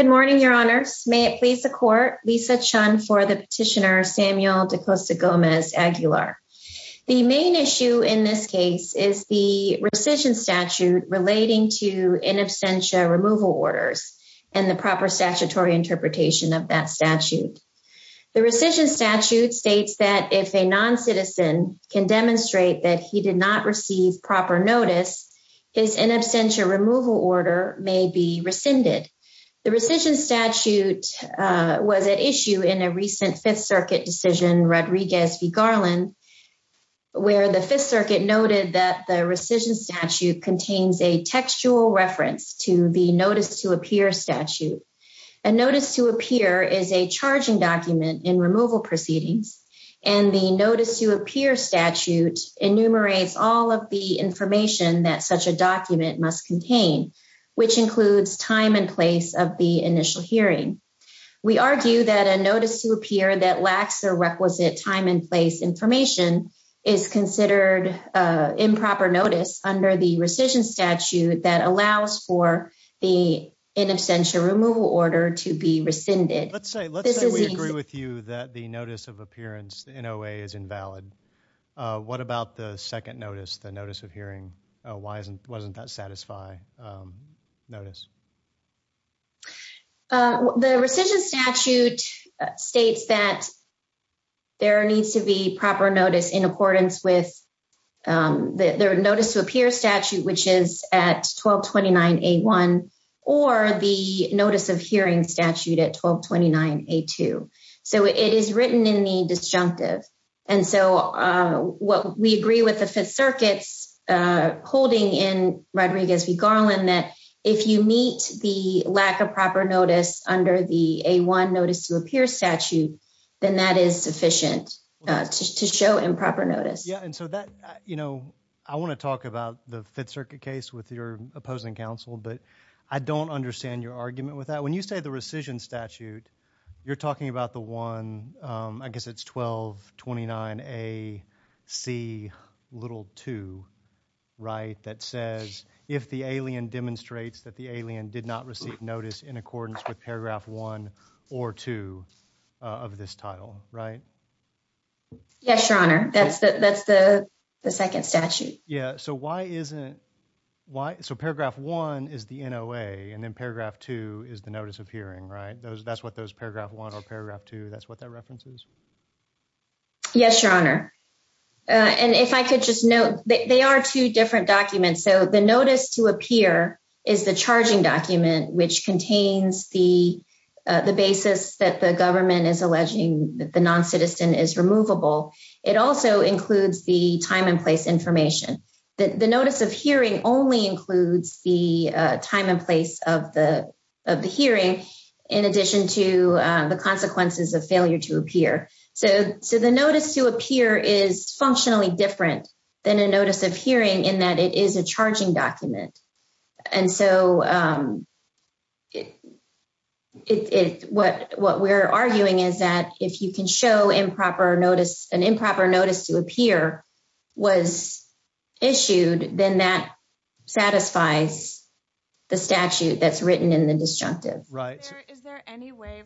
Good morning, your honors. May it please the court, Lisa Chun for the petitioner Samuel Dacostagomez-Aguilar. The main issue in this case is the rescission statute relating to in absentia removal orders and the proper statutory interpretation of that statute. The rescission statute states that if a noncitizen can demonstrate that he did not receive proper notice, his in absentia removal order may be rescinded. The rescission statute was at issue in a recent Fifth Circuit decision, Rodriguez v. Garland, where the Fifth Circuit noted that the rescission statute contains a textual reference to the notice to appear statute. A notice to appear is a charging document in removal proceedings, and the notice to appear statute enumerates all of the information that such a document must contain, which includes time and place of the initial hearing. We argue that a notice to appear that lacks the requisite time and place information is considered improper notice under the rescission statute that allows for the in absentia removal order to be rescinded. Let's say we agree with you that the notice of appearance, the NOA, is invalid. What about the second notice, the notice of hearing? Why wasn't that a satisfy notice? The rescission statute states that there needs to be proper notice in accordance with the notice to appear statute, which is at 1229 A-1, or the notice of hearing statute at 1229 A-2, so it is written in the disjunctive. And so what we agree with the Fifth Circuit's holding in Rodriguez v. Garland that if you meet the lack of proper notice under the A-1 notice to appear statute, then that is sufficient to show improper notice. Yeah, and so that, you know, I want to talk about the Fifth Circuit case with your opposing counsel, but I don't understand your argument with that. When you say the rescission statute, you're talking about the one, I guess it's 1229 A-C-2, right, that says if the alien demonstrates that the alien did not receive notice in accordance with paragraph one or two of this title, right? Yes, Your Honor. That's the second statute. Yeah, so why isn't, why, so paragraph one is the NOA, and then paragraph two is the notice of hearing, right? That's what those paragraph one or paragraph two, that's what that reference is? Yes, Your Honor, and if I could just note, they are two different documents, so the notice to appear is the charging document, which contains the basis that the government is alleging that the non-citizen is removable. It also includes the time and place information. The notice of hearing only includes the time and place of the hearing, in addition to the consequences of failure to appear. So the notice to appear is functionally different than a notice of hearing in that it is a charging document. And so it, what we're arguing is that if you can show improper notice, an improper notice to appear was issued, then that satisfies the statute that's written in the disjunctive. Right. Is there any way,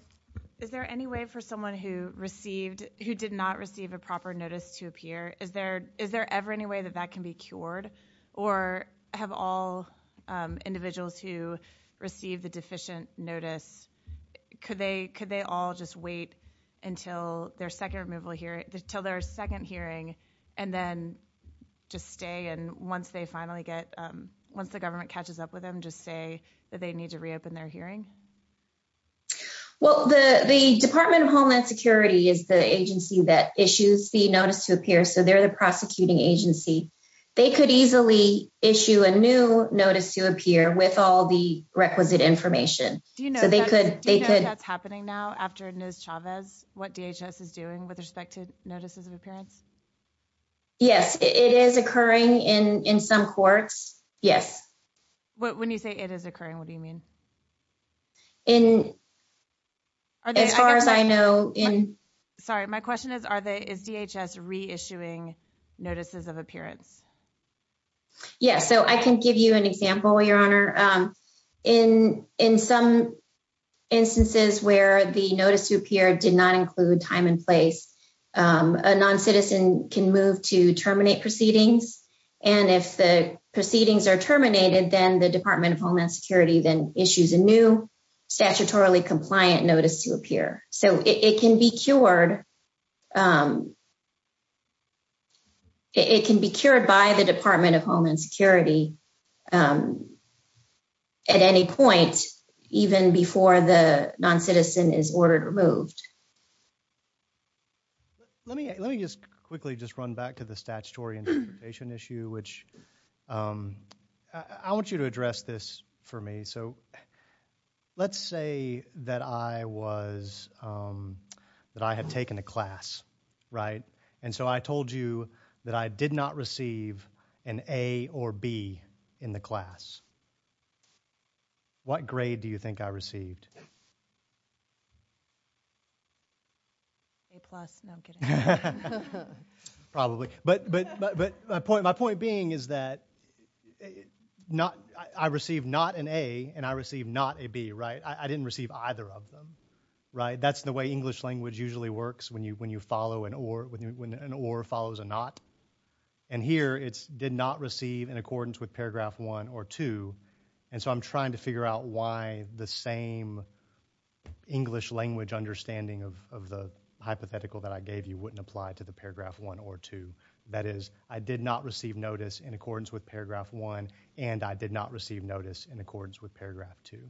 is there any way for someone who received, who did not receive a proper notice to appear, is there, is there ever any way that that can be cured? Or have all individuals who received the deficient notice, could they, could they all just wait until their second removal hearing, until their second hearing, and then just stay? And once they finally get, once the government catches up with them, just say that they need to reopen their hearing? Well, the, the Department of Homeland Security is the agency that issues the notice to appear. So they're the prosecuting agency. They could easily issue a new notice to appear with all the requisite information. Do you know? So they could, they could. That's happening now after NIS Chavez, what DHS is doing with respect to notices of appearance? Yes, it is occurring in, in some courts. Yes. When you say it is occurring, what do you mean? In, as far as I know, in, sorry, my question is, are they, is DHS reissuing notices of appearance? Yes. So I can give you an example, your honor in, in some instances where the notice to appear did not include time and place, a non-citizen can move to terminate proceedings. And if the proceedings are terminated, then the Department of Homeland Security, then issues a new statutorily compliant notice to appear. So it can be cured. It can be cured by the Department of Homeland Security. At any point, even before the non-citizen is ordered removed. Let me, let me just quickly just run back to the statutory interpretation issue, which I want you to address this for me. So let's say that I was, that I had taken a class, right? And so I told you that I did not receive an A or B in the class. A plus, no, I'm kidding. But, but, but my point, my point being is that not, I received not an A and I received not a B, right? I didn't receive either of them, right? That's the way English language usually works when you, when you follow an or, when an or follows a not. And here it's did not receive in accordance with paragraph one or two. And so I'm trying to figure out why the same English language understanding of the hypothetical that I gave you wouldn't apply to the paragraph one or two. That is, I did not receive notice in accordance with paragraph one, and I did not receive notice in accordance with paragraph two.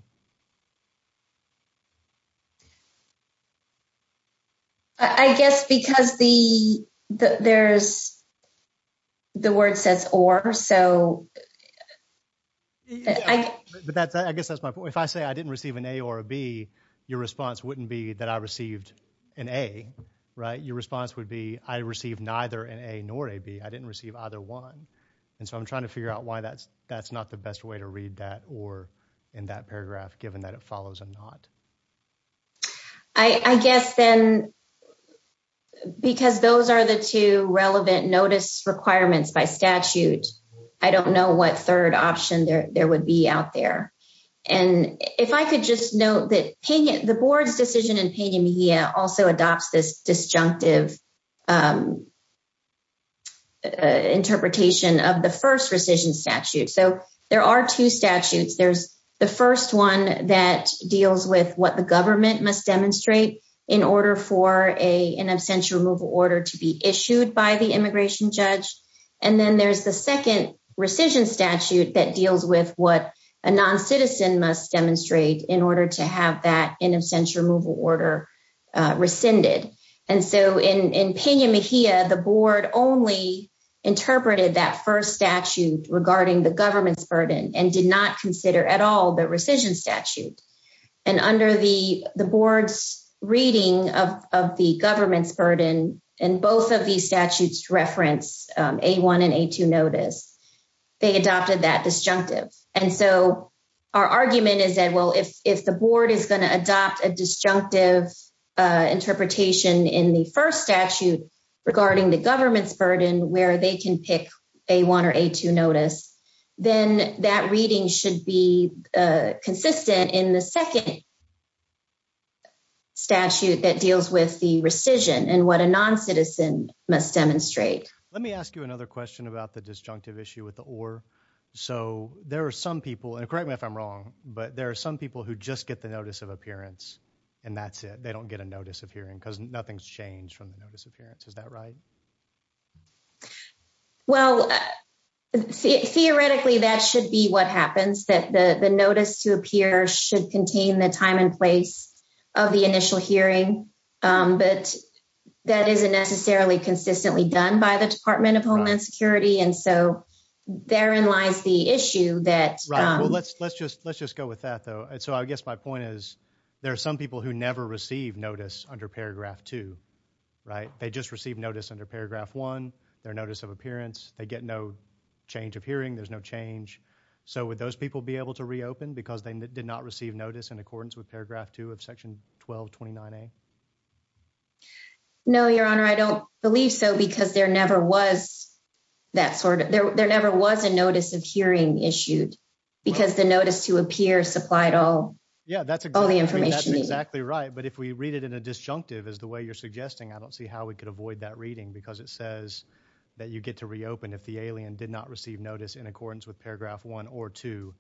I guess because the, there's, the word says or, so I, but that's, I guess that's my point. If I say I didn't receive an A or a B, your response wouldn't be that I received an A, right? Your response would be, I received neither an A nor a B. I didn't receive either one. And so I'm trying to figure out why that's, that's not the best way to read that or in that paragraph, given that it follows a not. I guess then, because those are the two relevant notice requirements by statute, I don't know what third option there would be out there. And if I could just note that the board's decision in also adopts this disjunctive interpretation of the 1st rescission statute. So there are 2 statutes. There's the 1st, 1 that deals with what the government must demonstrate in order for a, an essential removal order to be issued by the immigration judge. And then there's the 2nd rescission statute that deals with what a non citizen must demonstrate in order to have that in absentia removal order rescinded. And so in the board only interpreted that 1st statute regarding the government's burden and did not consider at all the rescission statute. And under the board's reading of the government's burden, and both of these statutes reference A1 and A2 notice, they adopted that disjunctive. And so our argument is that, well, if the board is going to adopt a disjunctive interpretation in the 1st statute regarding the government's burden, where they can pick A1 or A2 notice, then that reading should be consistent in the 2nd statute that deals with the rescission and what a non citizen must demonstrate. Let me ask you another question about the disjunctive issue with the OR. So there are some people, and correct me if I'm wrong, but there are some people who just get the notice of appearance and that's it. They don't get a notice of hearing because nothing's changed from the notice of appearance. Is that right? Well, theoretically, that should be what happens that the notice to appear should contain the time and place of the initial hearing. But that isn't necessarily consistently done by the Department of Homeland Security. And so therein lies the issue that let's, let's just, let's just go with that, though. And so, I guess my point is, there are some people who never receive notice under paragraph 2. Right. They just receive notice under paragraph 1, their notice of appearance. They get no change of hearing. There's no change. So would those people be able to reopen because they did not receive notice in accordance with paragraph 2 of section 1229A? No, Your Honor, I don't believe so, because there never was that sort of, there never was a notice of hearing issued because the notice to appear supplied all. Yeah, that's all the information. That's exactly right. But if we read it in a disjunctive as the way you're suggesting, I don't see how we could avoid that reading because it says that you get to reopen if the alien did not receive notice in accordance with paragraph 1 or 2.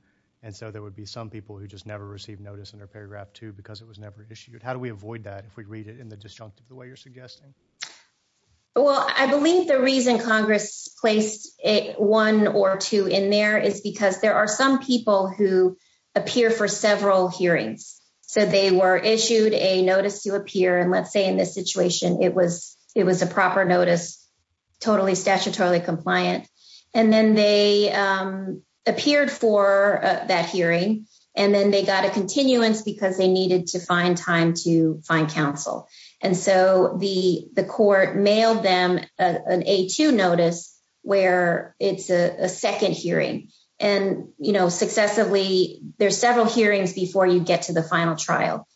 And so there would be some people who just never received notice under paragraph 2 because it was never issued. How do we avoid that if we read it in the disjunctive the way you're suggesting? Well, I believe the reason Congress placed 1 or 2 in there is because there are some people who appear for several hearings. So they were issued a notice to appear, and let's say in this situation, it was a proper notice, totally statutorily compliant, and then they appeared for that hearing, and then they got a continuance because they needed to find time to find counsel. And so the court mailed them an A2 notice where it's a second hearing. And successively, there's several hearings before you get to the final trial.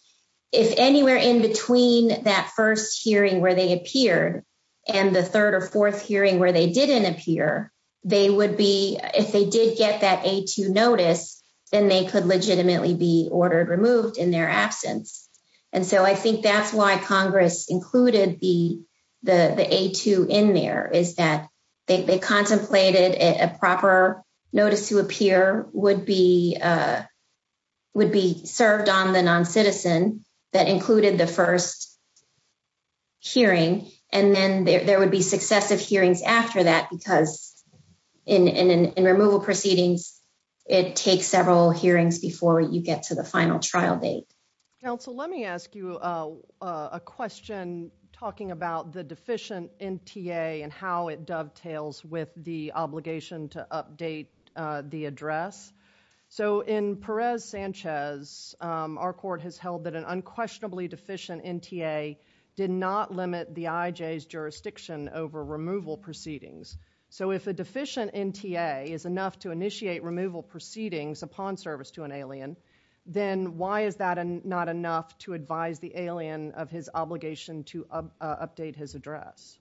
If anywhere in between that first hearing where they appeared and the 3rd or 4th hearing where they didn't appear, they would be, if they did get that A2 notice, then they could legitimately be ordered removed in their absence. And so I think that's why Congress included the A2 in there, is that they contemplated a proper notice to appear would be served on the non-citizen that included the first hearing, and then there would be successive hearings after that, because in removal proceedings, it takes several hearings before you get to the final trial date. Counsel, let me ask you a question talking about the deficient NTA and how it dovetails with the obligation to update the address. So in Perez-Sanchez, our court has held that an unquestionably deficient NTA did not limit the IJ's jurisdiction over removal proceedings. So if a deficient NTA is enough to initiate removal proceedings upon service to an alien, then why is that not enough to advise the alien of his obligation to update his address?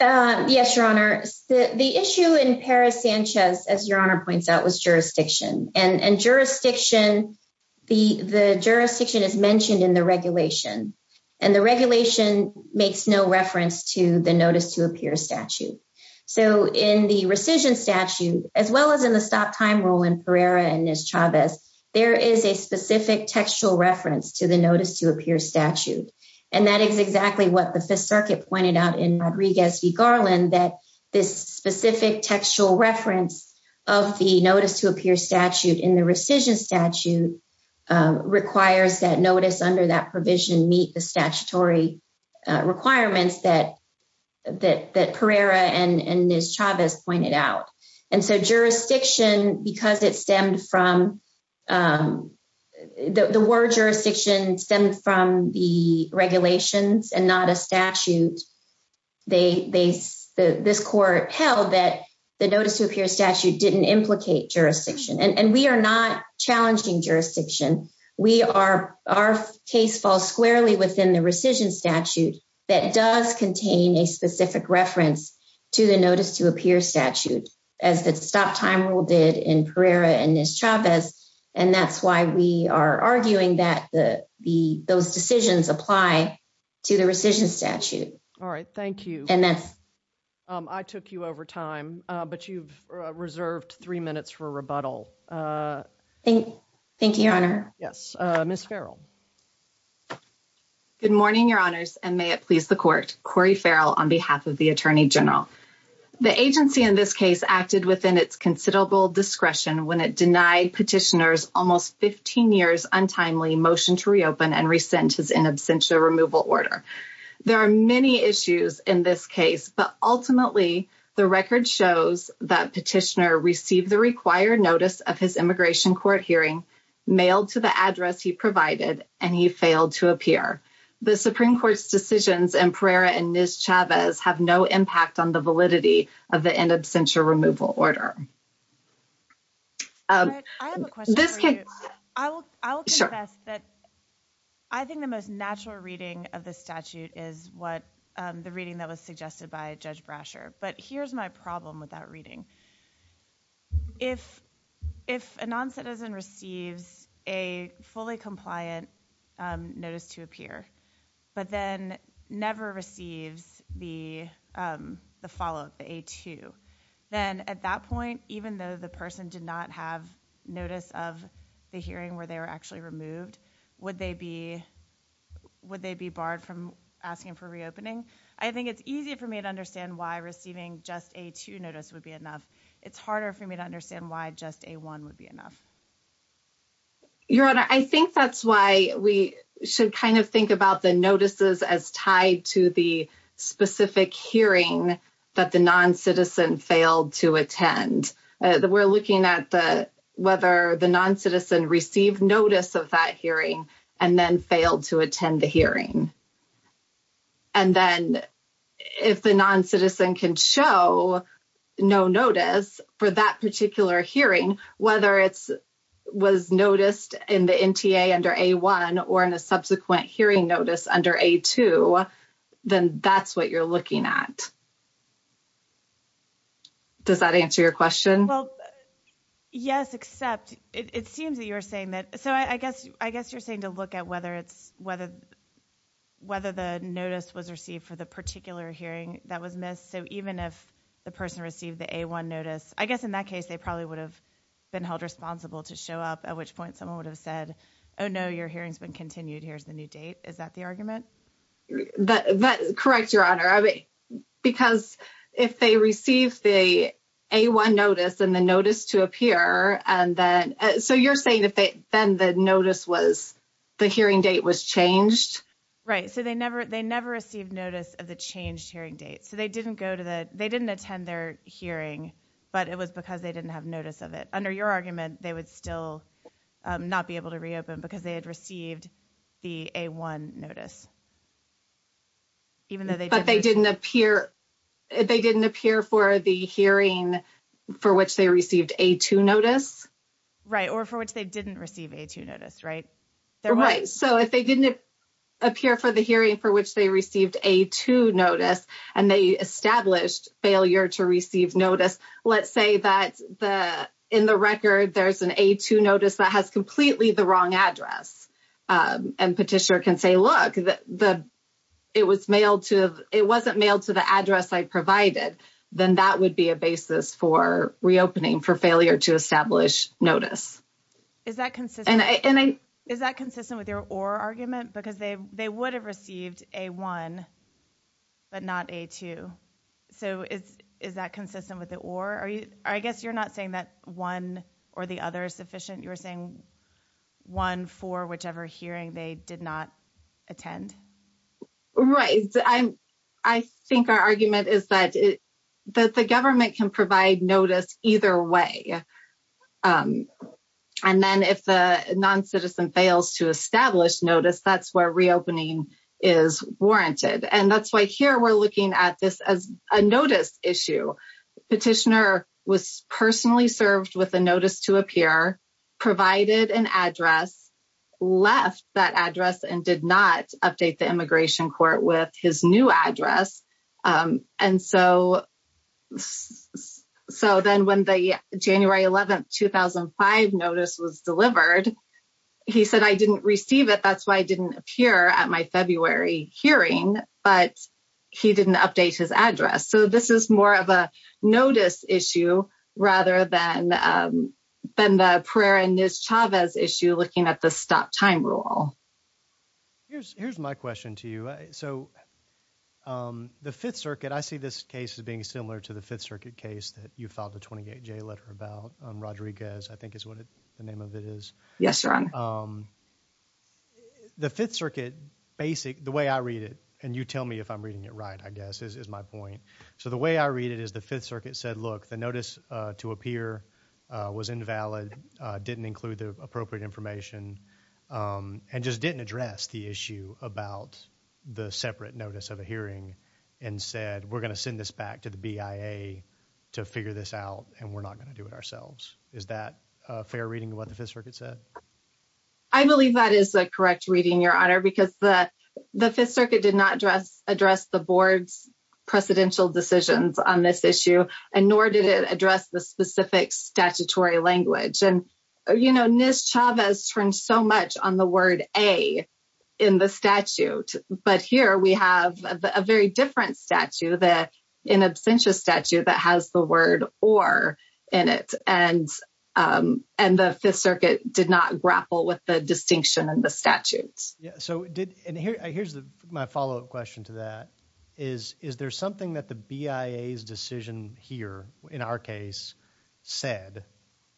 Yes, Your Honor. The issue in Perez-Sanchez, as Your Honor points out, was jurisdiction. And jurisdiction, the jurisdiction is mentioned in the regulation, and the regulation makes no reference to the notice to appear statute. So in the rescission statute, as well as in the stop time rule in Pereira and Chavez, there is a specific textual reference to the notice to appear statute. And that is exactly what the Fifth Circuit pointed out in Rodriguez v. Garland, that this specific textual reference of the notice to appear statute in the rescission statute requires that notice under that provision meet the statutory requirements that Pereira and Chavez pointed out. And so jurisdiction, because it stemmed from the word jurisdiction stemmed from the regulations and not a statute, this court held that the notice to appear statute didn't implicate jurisdiction. And we are not challenging jurisdiction. Our case falls squarely within the rescission statute that does contain a specific reference to the notice to appear statute, as the stop time rule did in Pereira and Chavez. And that's why we are arguing that those decisions apply to the rescission statute. All right, thank you. And that's I took you over time, but you've reserved three minutes for rebuttal. Thank you, Your Honor. Yes, Ms. Farrell. Good morning, Your Honors, and may it please the Court. Cori Farrell on behalf of the Attorney General. The agency in this case acted within its considerable discretion when it denied petitioners almost 15 years untimely motion to reopen and rescind his in absentia removal order. There are many issues in this case, but ultimately, the record shows that petitioner received the required notice of his immigration court hearing, mailed to the address he provided, and he failed to appear. The Supreme Court's decisions in Pereira and Ms. Chavez have no impact on the validity of the in absentia removal order. I have a question. I will, I will say that I think the most natural reading of the statute is what the reading that was suggested by Judge Brasher. But here's my problem with that reading. If, if a non-citizen receives a fully compliant notice to appear, but then never receives the follow-up, the A-2, then at that point, even though the person did not have notice of the hearing where they were actually removed, would they be, would they be barred from asking for reopening? I think it's easy for me to understand why receiving just a two notice would be enough. It's harder for me to understand why just a one would be enough. Your Honor, I think that's why we should kind of think about the notices as tied to the specific hearing that the non-citizen failed to attend. We're looking at the, whether the non-citizen received notice of that hearing and then failed to attend the hearing. And then if the non-citizen can show no notice for that particular hearing, whether it's, was noticed in the NTA under A-1 or in a subsequent hearing notice under A-2, then that's what you're looking at. Does that answer your question? Well, yes, except it seems that you're saying that, so I guess, I guess you're saying to look at whether it's, whether, whether the notice was received for the particular hearing that was missed. So, even if the person received the A-1 notice, I guess, in that case, they probably would have been held responsible to show up at which point someone would have said, oh, no, your hearing's been continued. Here's the new date. Is that the argument? That, correct, Your Honor. I mean, because if they received the A-1 notice and the notice to appear, and then, so you're saying if they, then the notice was, the hearing date was changed. Right, so they never, they never received notice of the changed hearing date. So they didn't go to the, they didn't attend their hearing, but it was because they didn't have notice of it. Under your argument, they would still not be able to reopen because they had received the A-1 notice. Even though they didn't appear, they didn't appear for the hearing for which they received A-2 notice. Right, or for which they didn't receive A-2 notice, right? Right, so if they didn't appear for the hearing for which they received A-2 notice, and they established failure to receive notice, let's say that the, in the record, there's an A-2 notice that has completely the wrong address. And petitioner can say, look, the, it was mailed to, it wasn't mailed to the address I provided, then that would be a basis for reopening, for failure to establish notice. Is that consistent? And I, and I, is that consistent with your or argument? Because they, they would have received A-1, but not A-2. So, is, is that consistent with the or? Are you, I guess you're not saying that one or the other is sufficient, you're saying one for whichever hearing they did not attend? Right, I'm, I think our argument is that it, that the government can provide notice either way. And then if the non-citizen fails to establish notice, that's where reopening is warranted. And that's why here we're looking at this as a notice issue. Petitioner was personally served with a notice to appear, provided an address, left that address, and did not update the immigration court with his new address. And so, so then when the January 11, 2005 notice was delivered, he said, I didn't receive it. That's why I didn't appear at my February hearing, but he didn't update his address. So this is more of a notice issue, rather than, than the Pereira-Nez Chavez issue, looking at the stop time rule. Here's, here's my question to you. So, the Fifth Circuit, I see this case as being similar to the Fifth Circuit case that you filed a 28-J letter about, Rodriguez, I think is what the name of it is. Yes, your honor. The Fifth Circuit, basic, the way I read it, and you tell me if I'm reading it right, I guess, is my point. So the way I read it is the Fifth Circuit said, look, the notice to appear was invalid, didn't include the appropriate information. And just didn't address the issue about the separate notice of a hearing and said, we're going to send this back to the BIA to figure this out. And we're not going to do it ourselves. Is that a fair reading of what the Fifth Circuit said? I believe that is the correct reading, your honor, because the, the Fifth Circuit did not address, address the board's precedential decisions on this issue, and nor did it address the specific statutory language. And, you know, Ms. Chavez turned so much on the word A in the statute, but here we have a very different statute that, an absentia statute that has the word or in it, and, and the Fifth Circuit did not grapple with the distinction in the statutes. Yeah. So did, and here, here's the, my follow-up question to that is, is there something that the BIA's decision here in our case said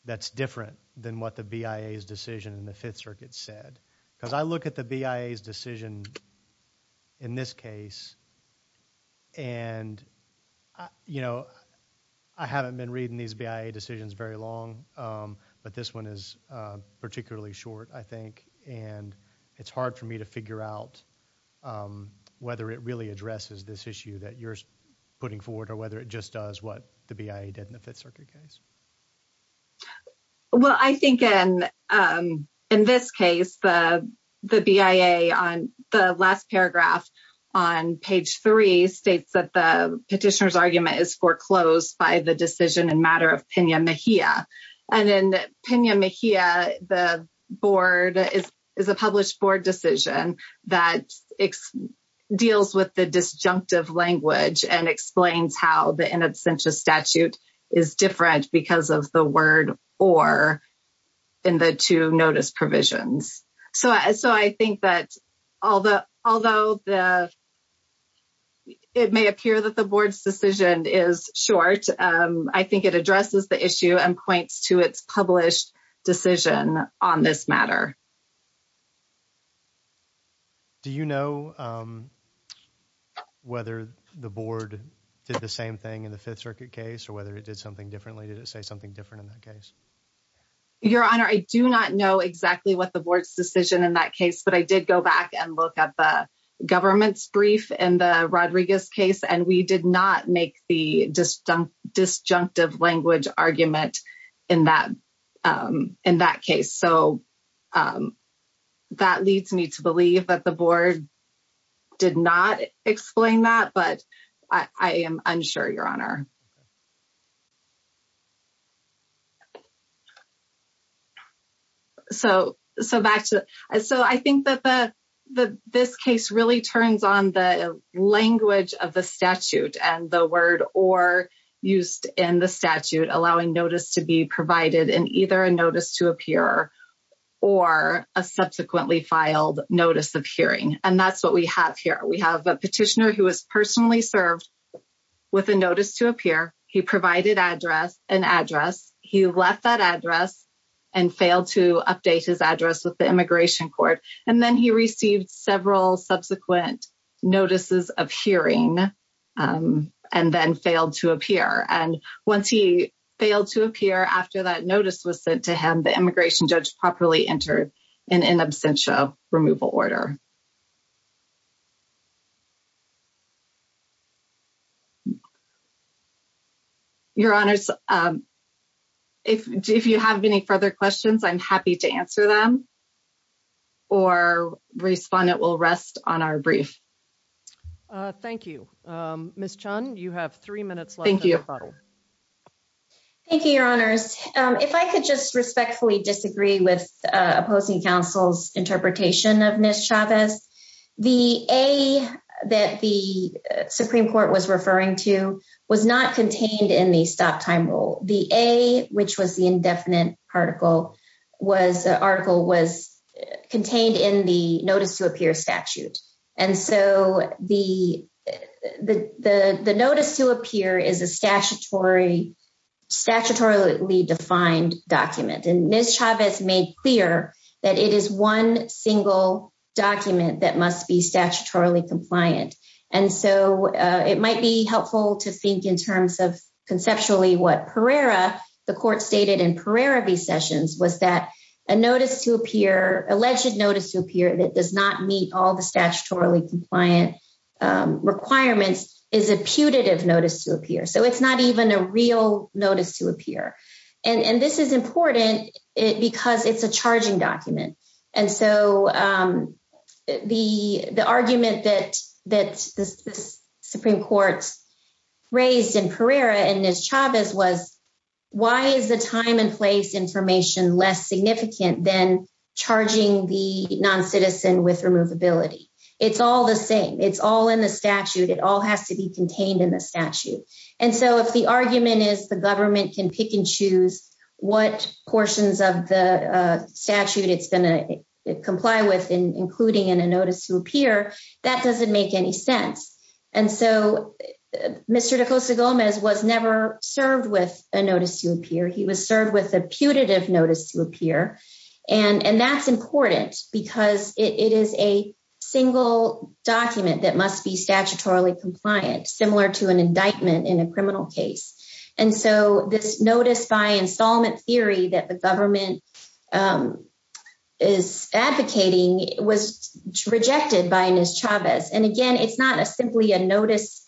that's different than what the BIA's decision in the Fifth Circuit said? Because I look at the BIA's decision in this case, and, you know, I haven't been reading these BIA decisions very long, but this one is particularly short, I think, and it's hard for me to figure out whether it really addresses this issue that you're putting forward, or whether it just does what the BIA did in the Fifth Circuit case. Well, I think in, in this case, the, the BIA on the last paragraph on page three states that the petitioner's argument is foreclosed by the decision in matter of Pena Mejia. And in Pena Mejia, the board is, is a published board decision that deals with the disjunctive language and explains how the in absentia statute is different because of the word or in the two notice provisions. So, so I think that all the, although the, it may appear that the board's decision is short, I think it addresses the issue and points to its published decision on this matter. Do you know whether the board did the same thing in the Fifth Circuit case, or whether it did something differently? Did it say something different in that case? Your Honor, I do not know exactly what the board's decision in that case, but I did go back and look at the government's brief in the Rodriguez case, and we did not make the disjunctive language argument in that, in that case. So, that leads me to believe that the board did not explain that, but I am unsure, Your Honor. So, so back to, so I think that the, the, this case really turns on the language of the statute and the word or used in the statute, allowing notice to be provided in either a notice to appear or a subsequently filed notice of hearing, and that's what we have here. We have a petitioner who was personally served with a notice to appear. He provided address, an address. He left that address and failed to update his address with the immigration court, and then he received several subsequent notices of hearing and then failed to appear. And once he failed to appear after that notice was sent to him, the immigration judge properly entered an in absentia removal order. Your Honor, if you have any further questions, I'm happy to answer them. Or respond, it will rest on our brief. Thank you. Ms. John, you have 3 minutes. Thank you. Thank you, Your Honors. If I could just respectfully disagree with opposing counsel's interpretation of Ms. Chavez. The A that the Supreme Court was referring to was not contained in the stop time rule, the A, which was the indefinite article was article was contained in the notice to appear statute. And so the, the, the, the notice to appear is a statutory statutorily defined document. And Ms. Chavez made clear that it is 1 single document that must be statutorily compliant. And so it might be helpful to think in terms of conceptually what Pereira, the court stated in Pereira v. Sessions was that a notice to appear alleged notice to appear that does not meet all the statutorily compliant requirements is a putative notice to appear. So, it's not even a real notice to appear and this is important because it's a charging document. And so the, the argument that that the Supreme Court's raised in Pereira and Ms. Chavez was why is the time and place information less significant than charging the non citizen with removability? It's all the same. It's all in the statute. It all has to be contained in the statute. And so if the argument is the government can pick and choose what portions of the statute it's going to comply with, including in a notice to appear, that doesn't make any sense. And so Mr. DeCosta Gomez was never served with a notice to appear. He was served with a putative notice to appear. And that's important because it is a single document that must be statutorily compliant, similar to an indictment in a criminal case. And so this notice by installment theory that the government is advocating was rejected by Ms. Chavez. And again, it's not simply a notice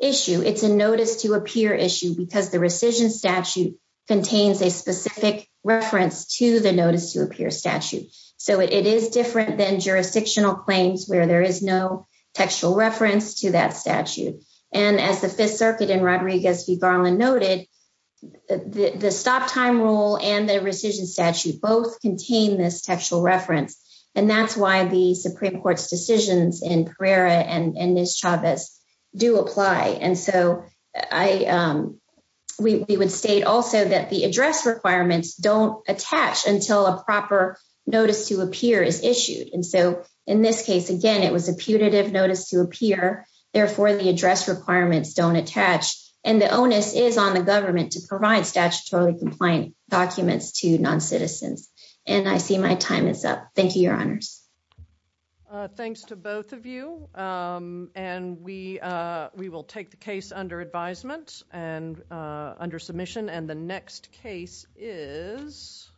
issue. It's a notice to appear issue because the rescission statute contains a specific reference to the notice to appear statute. So, it is different than jurisdictional claims where there is no textual reference to that statute. And as the Fifth Circuit and Rodriguez v. Garland noted, the stop time rule and the rescission statute both contain this textual reference. And that's why the Supreme Court's decisions in Pereira and Ms. Chavez do apply. And so we would state also that the address requirements don't attach until a proper notice to appear is issued. And so in this case, again, it was a putative notice to appear. Therefore, the address requirements don't attach. And the onus is on the government to provide statutorily compliant documents to non-citizens. And I see my time is up. Thank you, Your Honors. Thanks to both of you. And we will take the case under advisement and under submission. And the next case is.